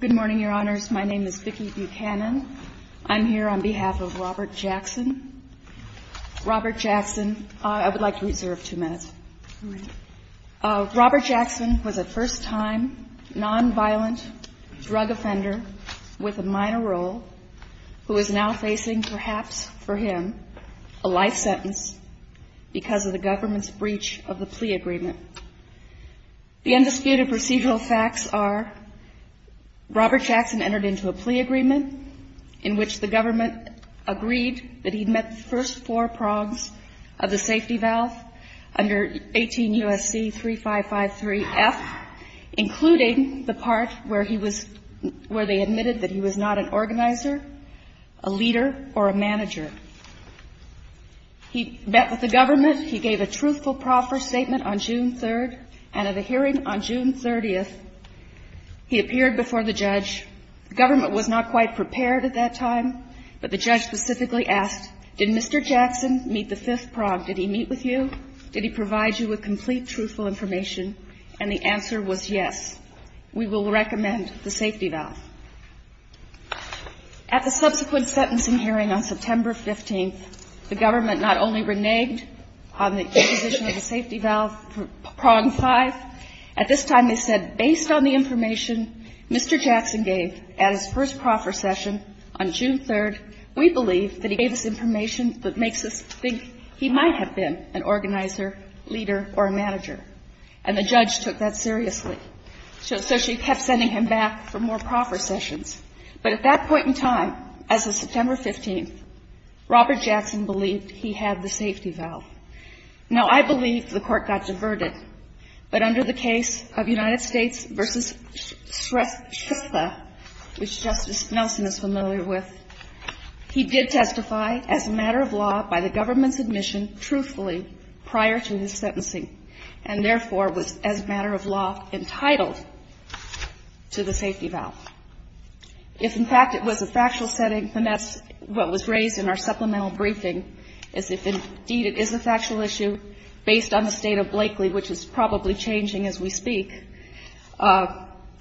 Good morning, Your Honors. My name is Vicki Buchanan. I'm here on behalf of Robert Jackson. Robert Jackson, I would like to reserve two minutes. Robert Jackson was a first-time non-violent drug offender with a minor role who is now facing, perhaps for him, a life sentence because of the government's breach of the plea agreement. The undisputed procedural facts are, Robert Jackson entered into a plea agreement in which the government agreed that he met the first four prongs of the safety valve under 18 U.S.C. 3553F, including the part where he was, where they admitted that he was not an organizer, a leader, or a manager. He met with the government, he gave a truthful, proper statement on June 3rd, and at a hearing on June 30th, he appeared before the judge. The government was not quite prepared at that time, but the judge specifically asked, did Mr. Jackson meet the fifth prong? Did he meet with you? Did he provide you with complete, truthful information? And the answer was yes. We will recommend the safety valve. At the subsequent sentencing hearing on September 15th, the government not only reneged on the position of the safety valve prong 5, at this time they said, based on the information Mr. Jackson gave at his first proffer session on June 3rd, we believe that he gave us information that makes us think he might have been an organizer, leader, or a manager. And the judge took that seriously. So she kept sending him back for more proffer sessions. But at that point in time, as of September 15th, Robert Jackson believed he had the safety valve. Now, I believe the Court got diverted, but under the case of United States v. Shrestha, which Justice Nelson is familiar with, he did testify as a matter of law by the government's sentencing, and therefore was, as a matter of law, entitled to the safety valve. If, in fact, it was a factual setting, and that's what was raised in our supplemental briefing, is if, indeed, it is a factual issue, based on the State of Blakely, which is probably changing as we speak,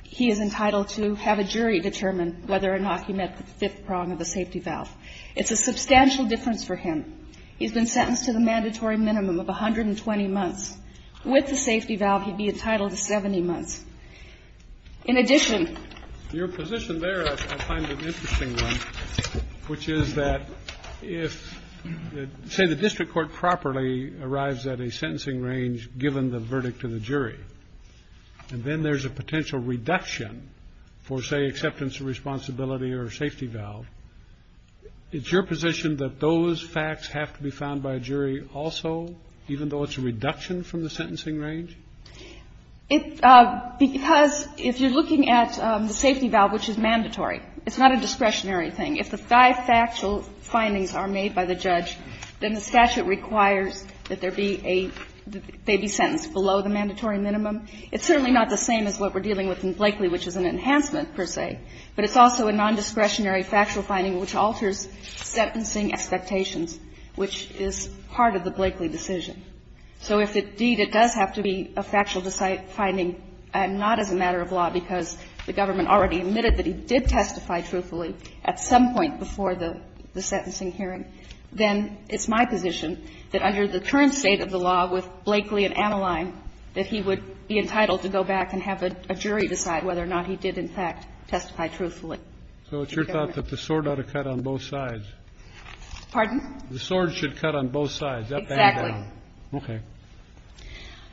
he is entitled to have a jury determine whether or not he met the fifth prong of the safety valve. It's a substantial difference for him. He's been sentenced to the mandatory minimum of 120 months. With the safety valve, he'd be entitled to 70 months. In addition to your position there, I find an interesting one, which is that if, say, the district court properly arrives at a sentencing range given the verdict to the jury, and then there's a potential reduction for, say, acceptance of responsibility or safety valve, it's your position that those facts have to be found by a jury also, even though it's a reduction from the sentencing range? It's because if you're looking at the safety valve, which is mandatory, it's not a discretionary thing. If the five factual findings are made by the judge, then the statute requires that there be a – they be sentenced below the mandatory minimum. It's certainly not the same as what we're dealing with in Blakely, which is an enhancement, per se. But it's also a nondiscretionary factual finding which alters sentencing expectations, which is part of the Blakely decision. So if, indeed, it does have to be a factual finding and not as a matter of law because the government already admitted that he did testify truthfully at some point before the – the sentencing hearing, then it's my position that under the current state of the law with Blakely and Anaheim, that he would be entitled to go back and have a jury decide whether or not he did, in fact, testify truthfully. So it's your thought that the sword ought to cut on both sides? Pardon? The sword should cut on both sides, up and down. Exactly. Okay.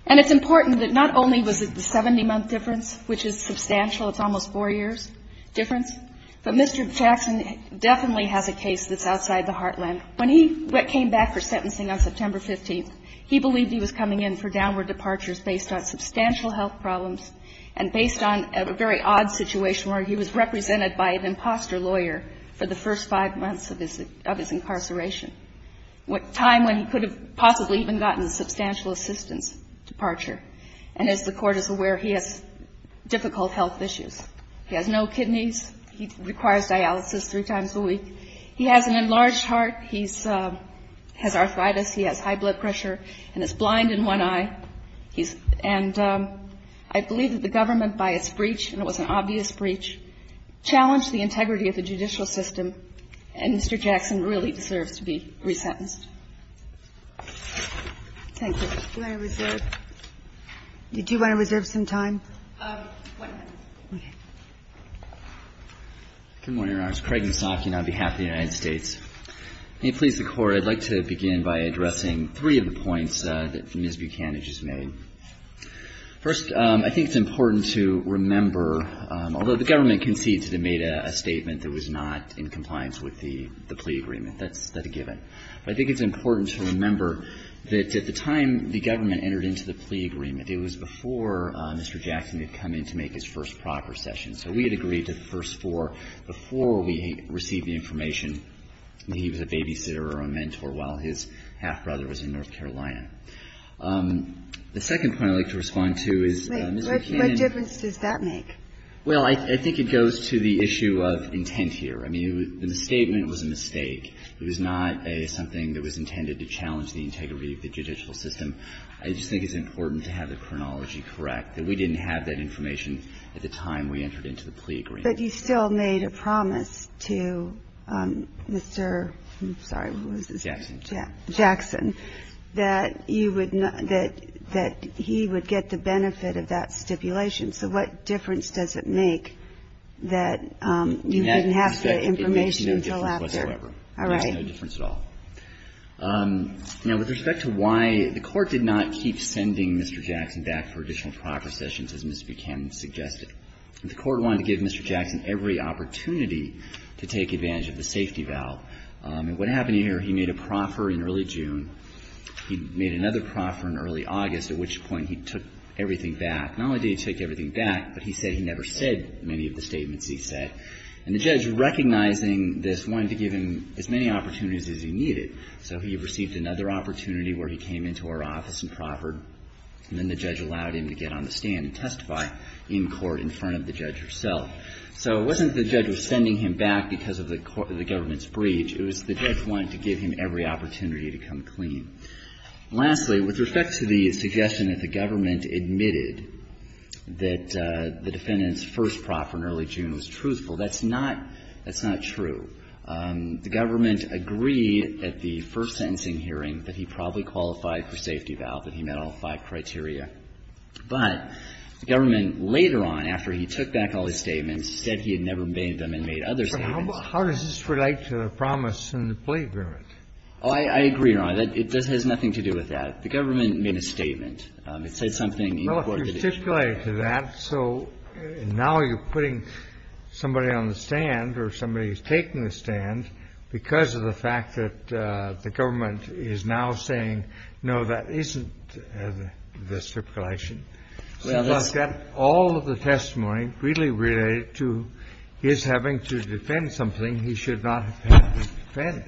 And it's important that not only was it the 70-month difference, which is substantial, it's almost 4 years difference, but Mr. Jackson definitely has a case that's outside the heartland. When he came back for sentencing on September 15th, he believed he was coming in for downward departures based on substantial health problems and based on a very odd situation where he was represented by an imposter lawyer for the first five months of his incarceration, a time when he could have possibly even gotten substantial assistance departure. And as the Court is aware, he has difficult health issues. He has no kidneys. He requires dialysis three times a week. He has an enlarged heart. He has arthritis. He has high blood pressure and is blind in one eye. And I believe that the government, by its breach, and it was an obvious breach, challenged the integrity of the judicial system, and Mr. Jackson really deserves to be resentenced. Thank you. Do you want to reserve? Did you want to reserve some time? One minute. Okay. Good morning, Your Honors. Craig Mazzocchi on behalf of the United States. May it please the Court, I'd like to begin by addressing three of the points that Ms. Buchanan just made. First, I think it's important to remember, although the government concedes that it made a statement that was not in compliance with the plea agreement, that's a given. But I think it's important to remember that at the time the government entered into the plea agreement, it was before Mr. Jackson had come in to make his first proper session. So we had agreed to the first four before we received the information that he was a babysitter or a mentor while his half-brother was in North Carolina. The second point I'd like to respond to is Ms. Buchanan What difference does that make? Well, I think it goes to the issue of intent here. I mean, the statement was a mistake. It was not something that was intended to challenge the integrity of the judicial system. I just think it's important to have the chronology correct, that we didn't have that information at the time we entered into the plea agreement. But you still made a promise to Mr. Jackson that he would get the benefit of that And with respect to why the Court did not keep sending Mr. Jackson back for additional proper sessions, as Ms. Buchanan suggested, the Court wanted to give Mr. Jackson every opportunity to take advantage of the safety valve. And what happened here, he made a proffer in early June, he made another proffer in early August, at which point he took everything back. Not only did he take everything back, but he said he never said many of the statements he said. And the judge, recognizing this, wanted to give him as many opportunities as he needed. So he received another opportunity where he came into our office and proffered, and then the judge allowed him to get on the stand and testify in court in front of the judge herself. So it wasn't that the judge was sending him back because of the government's breach. It was the judge wanted to give him every opportunity to come clean. Lastly, with respect to the suggestion that the government admitted that the defendant's first proffer in early June was truthful, that's not true. The government agreed at the first sentencing hearing that he probably qualified for safety valve, that he met all five criteria. But the government, later on, after he took back all his statements, said he had never made them and made other statements. How does this relate to the promise in the plea agreement? Oh, I agree, Your Honor, that it has nothing to do with that. The government made a statement. It said something important. Well, if you're stipulated to that, so now you're putting somebody on the stand or somebody who's taking the stand because of the fact that the government is now saying, no, that isn't the stipulation. All of the testimony really related to his having to defend something he should not have had to defend.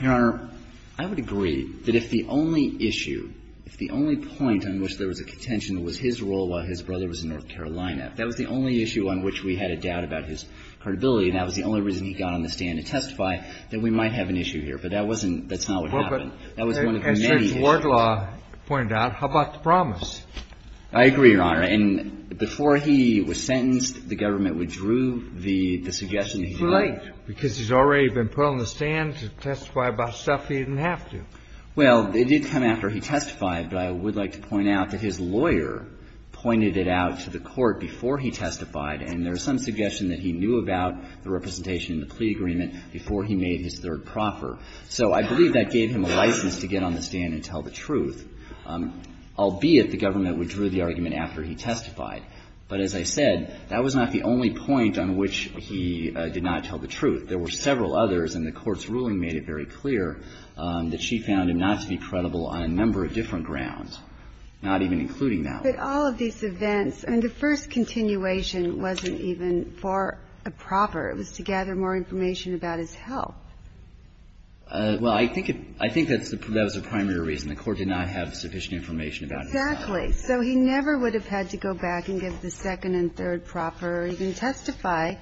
Your Honor, I would agree that if the only issue, if the only point on which there was a contention was his role while his brother was in North Carolina, that was the only issue on which we had a doubt about his credibility, and that was the only reason he got on the stand to testify, then we might have an issue here. But that wasn't – that's not what happened. That was one of the many issues. Well, but as Judge Wardlaw pointed out, how about the promise? I agree, Your Honor. And before he was sentenced, the government withdrew the suggestion he had made. It's too late, because he's already been put on the stand to testify about stuff he didn't have to. Well, it did come after he testified, but I would like to point out that his lawyer pointed it out to the Court before he testified, and there was some suggestion that he knew about the representation in the plea agreement before he made his third proffer. So I believe that gave him a license to get on the stand and tell the truth, albeit the government withdrew the argument after he testified. But as I said, that was not the only point on which he did not tell the truth. There were several others, and the Court's ruling made it very clear that she found him not to be credible on a number of different grounds, not even including that one. But if you look at these events, I mean, the first continuation wasn't even for a proffer. It was to gather more information about his health. Well, I think it was the primary reason. The Court did not have sufficient information about his health. Exactly. So he never would have had to go back and give the second and third proffer, or even the first proffer.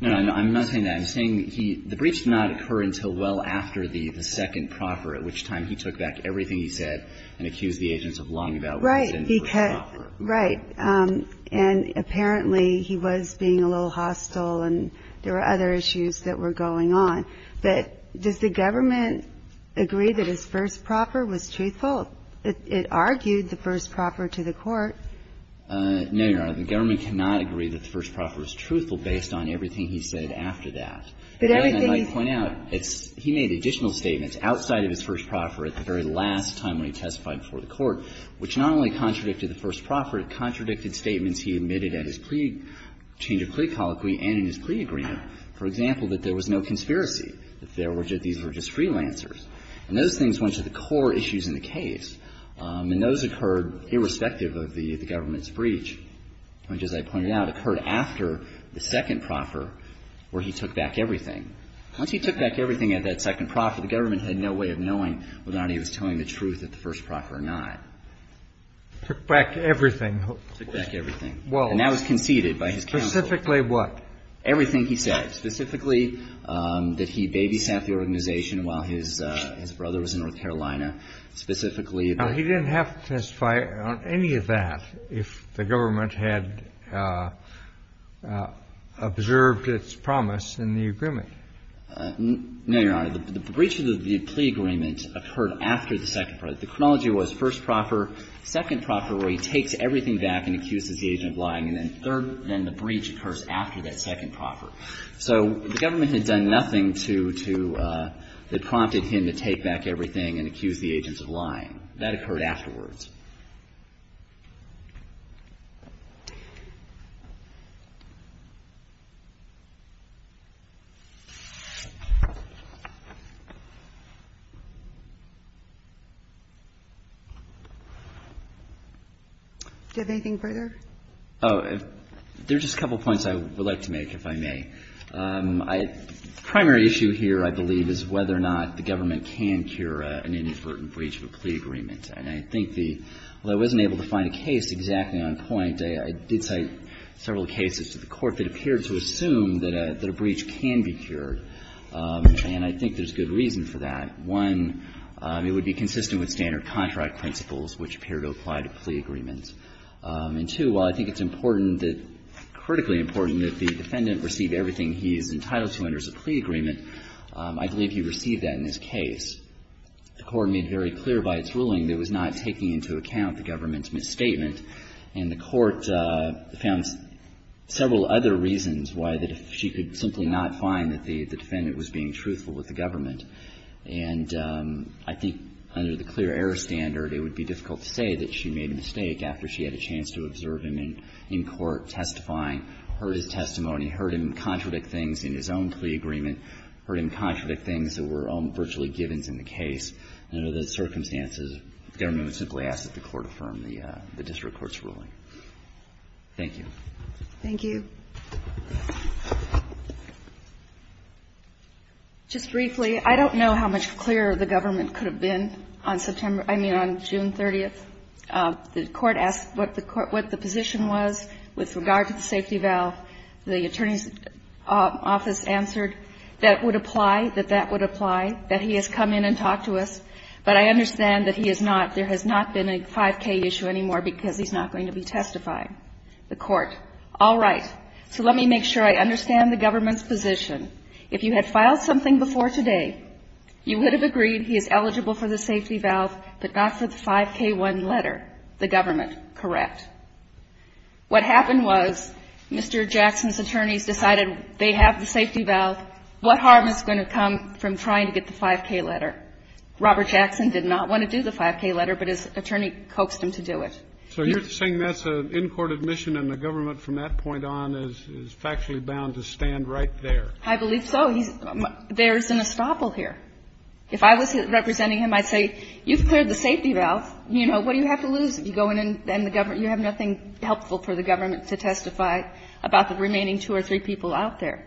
No, I'm not saying that. I'm saying the briefs did not occur until well after the second proffer, at which time he took back everything he said and accused the agents of lying about what was in the first proffer. Right. And apparently he was being a little hostile, and there were other issues that were going on. But does the government agree that his first proffer was truthful? It argued the first proffer to the Court. No, Your Honor. The government cannot agree that the first proffer was truthful based on everything he said after that. But everything he said after that was not true. And I might point out, it's he made additional statements outside of his first proffer at the very last time when he testified before the Court, which not only contradicted the first proffer, it contradicted statements he admitted at his plea change of plea colloquy and in his plea agreement. For example, that there was no conspiracy, that there were just these were just freelancers. And those things went to the core issues in the case, and those occurred irrespective of the government's breach. Which, as I pointed out, occurred after the second proffer where he took back everything. Once he took back everything at that second proffer, the government had no way of knowing whether or not he was telling the truth at the first proffer or not. Took back everything. Took back everything. And that was conceded by his counsel. Specifically what? Everything he said. Specifically that he babysat the organization while his brother was in North Carolina. Specifically that he was there. And he didn't have to testify on any of that if the government had observed its promise in the agreement. No, Your Honor. The breach of the plea agreement occurred after the second proffer. The chronology was first proffer, second proffer where he takes everything back and accuses the agent of lying, and then third, then the breach occurs after that second proffer. So the government had done nothing to to that prompted him to take back everything and accuse the agents of lying. That occurred afterwards. Do you have anything further? Oh, there's just a couple of points I would like to make, if I may. The primary issue here, I believe, is whether or not the government can cure an inadvertent breach of a plea agreement. And I think the – although I wasn't able to find a case exactly on point, I did cite several cases to the Court that appeared to assume that a breach can be cured. And I think there's good reason for that. One, it would be consistent with standard contract principles, which appear to apply to plea agreements. And two, while I think it's important that – critically important that the defendant receive everything he is entitled to under a plea agreement, I believe he received that in this case. The Court made very clear by its ruling that it was not taking into account the government's misstatement. And the Court found several other reasons why the – she could simply not find that the defendant was being truthful with the government. And I think under the clear error standard, it would be difficult to say that she made a mistake after she had a chance to observe him in court, testifying, heard his testimony, heard him contradict things in his own plea agreement, heard him contradict things that were virtually givens in the case. Under those circumstances, the government would simply ask that the Court affirm the district court's ruling. Thank you. Thank you. Just briefly, I don't know how much clearer the government could have been on September – I mean, on June 30th, the Court asked what the position was with regard to the safety valve. The attorney's office answered that it would apply, that that would apply, that he has come in and talked to us. But I understand that he is not – there has not been a 5K issue anymore because he's not going to be testifying. The Court, all right. So let me make sure I understand the government's position. If you had filed something before today, you would have agreed he is eligible for the safety valve, but not for the 5K1 letter. The government, correct. What happened was Mr. Jackson's attorneys decided they have the safety valve. What harm is going to come from trying to get the 5K letter? Robert Jackson did not want to do the 5K letter, but his attorney coaxed him to do it. So you're saying that's an in-court admission and the government from that point on is factually bound to stand right there? I believe so. He's – there is an estoppel here. If I was representing him, I'd say, you've cleared the safety valve. You know, what do you have to lose if you go in and the government – you have nothing helpful for the government to testify about the remaining two or three people out there.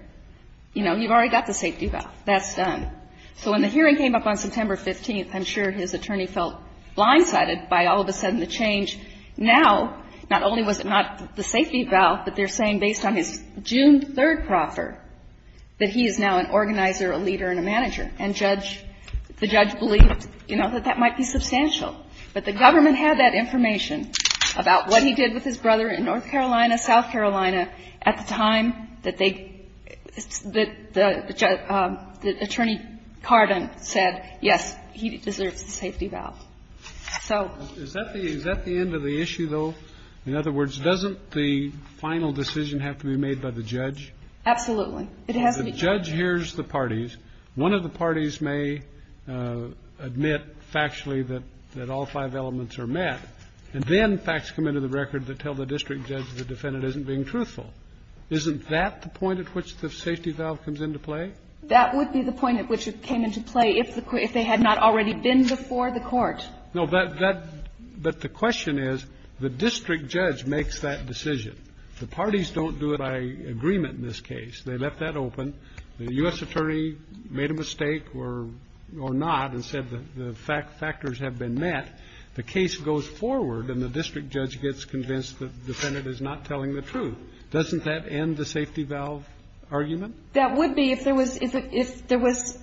You know, you've already got the safety valve. That's done. So when the hearing came up on September 15th, I'm sure his attorney felt blindsided by all of a sudden the change. Now, not only was it not the safety valve, but they're saying based on his June 3rd proffer, that he is now an organizer, a leader, and a manager, and judge – the judge believed, you know, that that might be substantial. But the government had that information about what he did with his brother in North Carolina, South Carolina, at the time that they – that the attorney Carden said, yes, he deserves the safety valve. So – Is that the – is that the end of the issue, though? In other words, doesn't the final decision have to be made by the judge? Absolutely. It has to be – The judge hears the parties. One of the parties may admit factually that all five elements are met, and then facts come into the record that tell the district judge the defendant isn't being truthful. Isn't that the point at which the safety valve comes into play? That would be the point at which it came into play if the – if they had not already been before the Court. No, but that – but the question is, the district judge makes that decision. The parties don't do it by agreement in this case. They left that open. The U.S. attorney made a mistake or – or not and said that the fact – factors have been met. The case goes forward, and the district judge gets convinced the defendant is not telling the truth. Doesn't that end the safety valve argument? That would be if there was – if there was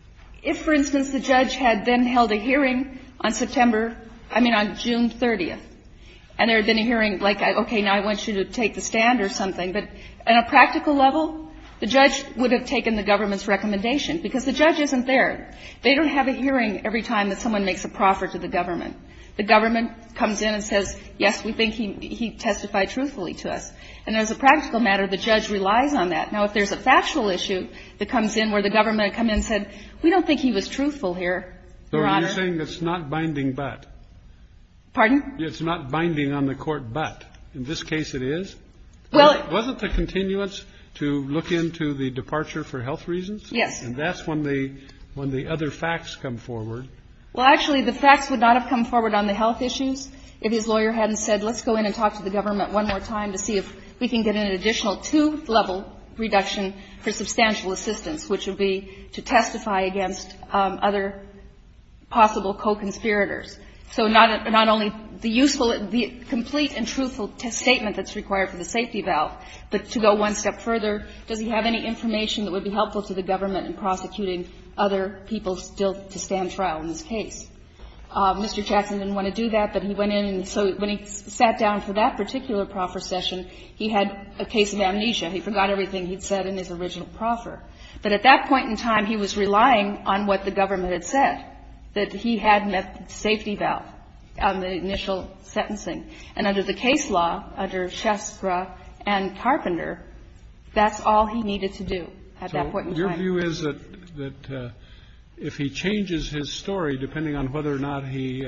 – if, for instance, the judge had then held a hearing on September – I mean, on June 30th, and there had been a hearing like, okay, now I want you to take the stand or something, but at a practical level, the judge would have taken the government's recommendation, because the judge isn't there. They don't have a hearing every time that someone makes a proffer to the government. The government comes in and says, yes, we think he testified truthfully to us. And as a practical matter, the judge relies on that. Now, if there's a factual issue that comes in where the government had come in and said, we don't think he was truthful here, Your Honor – So you're saying it's not binding but? Pardon? It's not binding on the court but. In this case, it is. Well, it – Wasn't the continuance to look into the departure for health reasons? Yes. And that's when the – when the other facts come forward. Well, actually, the facts would not have come forward on the health issues if his lawyer hadn't said, let's go in and talk to the government one more time to see if we can get an additional two-level reduction for substantial assistance, which would be to testify against other possible co-conspirators. So not only the useful – the complete and truthful statement that's required for the safety valve, but to go one step further, does he have any information that would be helpful to the government in prosecuting other people still to stand trial in this case? Mr. Jackson didn't want to do that, but he went in. And so when he sat down for that particular proffer session, he had a case of amnesia. He forgot everything he'd said in his original proffer. But at that point in time, he was relying on what the government had said, that he had a safety valve on the initial sentencing. And under the case law, under Shastra and Carpenter, that's all he needed to do at that point in time. So your view is that if he changes his story, depending on whether or not he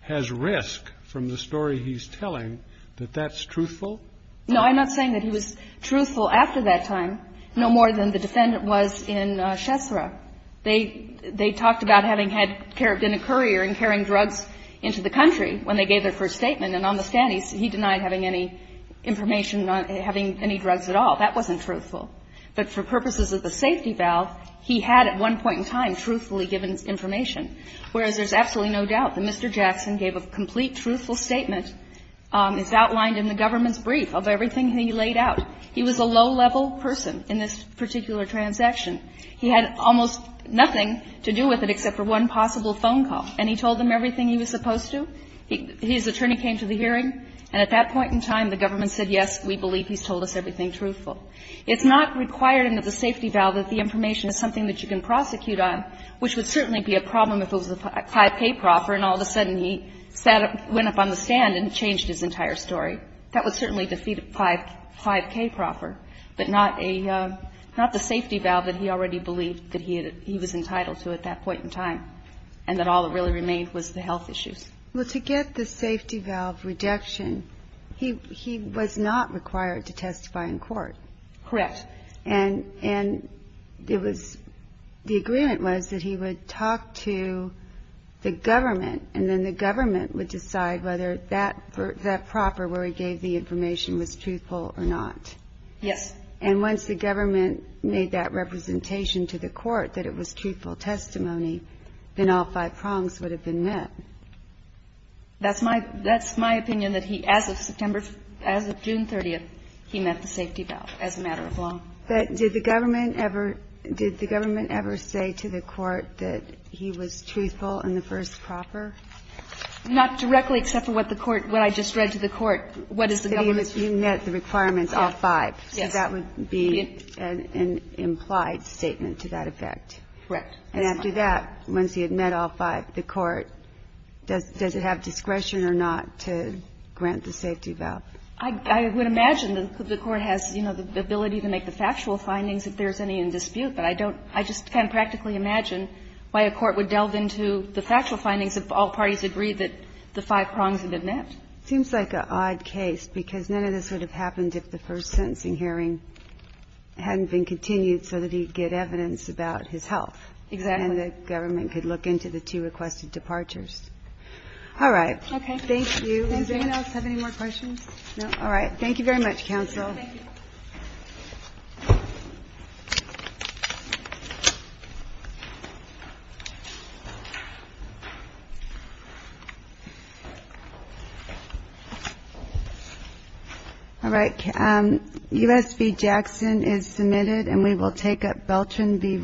has risk from the story he's telling, that that's truthful? No, I'm not saying that he was truthful after that time, no more than the defendant was in Shastra. They talked about having had carabinic courier and carrying drugs into the country when they gave their first statement, and on the stand, he denied having any information on having any drugs at all. That wasn't truthful. But for purposes of the safety valve, he had at one point in time truthfully given information. Whereas there's absolutely no doubt that Mr. Jackson gave a complete, truthful statement, as outlined in the government's brief, of everything he laid out. He was a low-level person in this particular transaction. He had almost nothing to do with it except for one possible phone call. And he told them everything he was supposed to. His attorney came to the hearing, and at that point in time, the government said, yes, we believe he's told us everything truthful. It's not required under the safety valve that the information is something that you can prosecute on, which would certainly be a problem if it was a high-pay proffer and all of a sudden he went up on the stand and changed his entire story. That would certainly defeat a 5K proffer, but not the safety valve that he already believed that he was entitled to at that point in time, and that all that really remained was the health issues. Well, to get the safety valve reduction, he was not required to testify in court. Correct. And it was the agreement was that he would talk to the government, and then the government would decide whether that proffer where he gave the information was truthful or not. Yes. And once the government made that representation to the court that it was truthful testimony, then all five prongs would have been met. That's my opinion, that as of June 30th, he met the safety valve as a matter of law. But did the government ever say to the court that he was truthful in the first proffer? Not directly, except for what the court, what I just read to the court, what is the government's. So you met the requirements, all five. Yes. So that would be an implied statement to that effect. Correct. And after that, once he had met all five, the court, does it have discretion or not to grant the safety valve? I would imagine that the court has, you know, the ability to make the factual findings if there's any in dispute. But I don't – I just can't practically imagine why a court would delve into the factual findings if all parties agreed that the five prongs had been met. It seems like an odd case, because none of this would have happened if the first sentencing hearing hadn't been continued so that he could get evidence about his health. Exactly. And the government could look into the two requested departures. All right. Okay. Thank you. Does anyone else have any more questions? All right. Thank you very much, counsel. Thank you. All right. U.S. v. Jackson is submitted, and we will take up Beltran v. Rowe.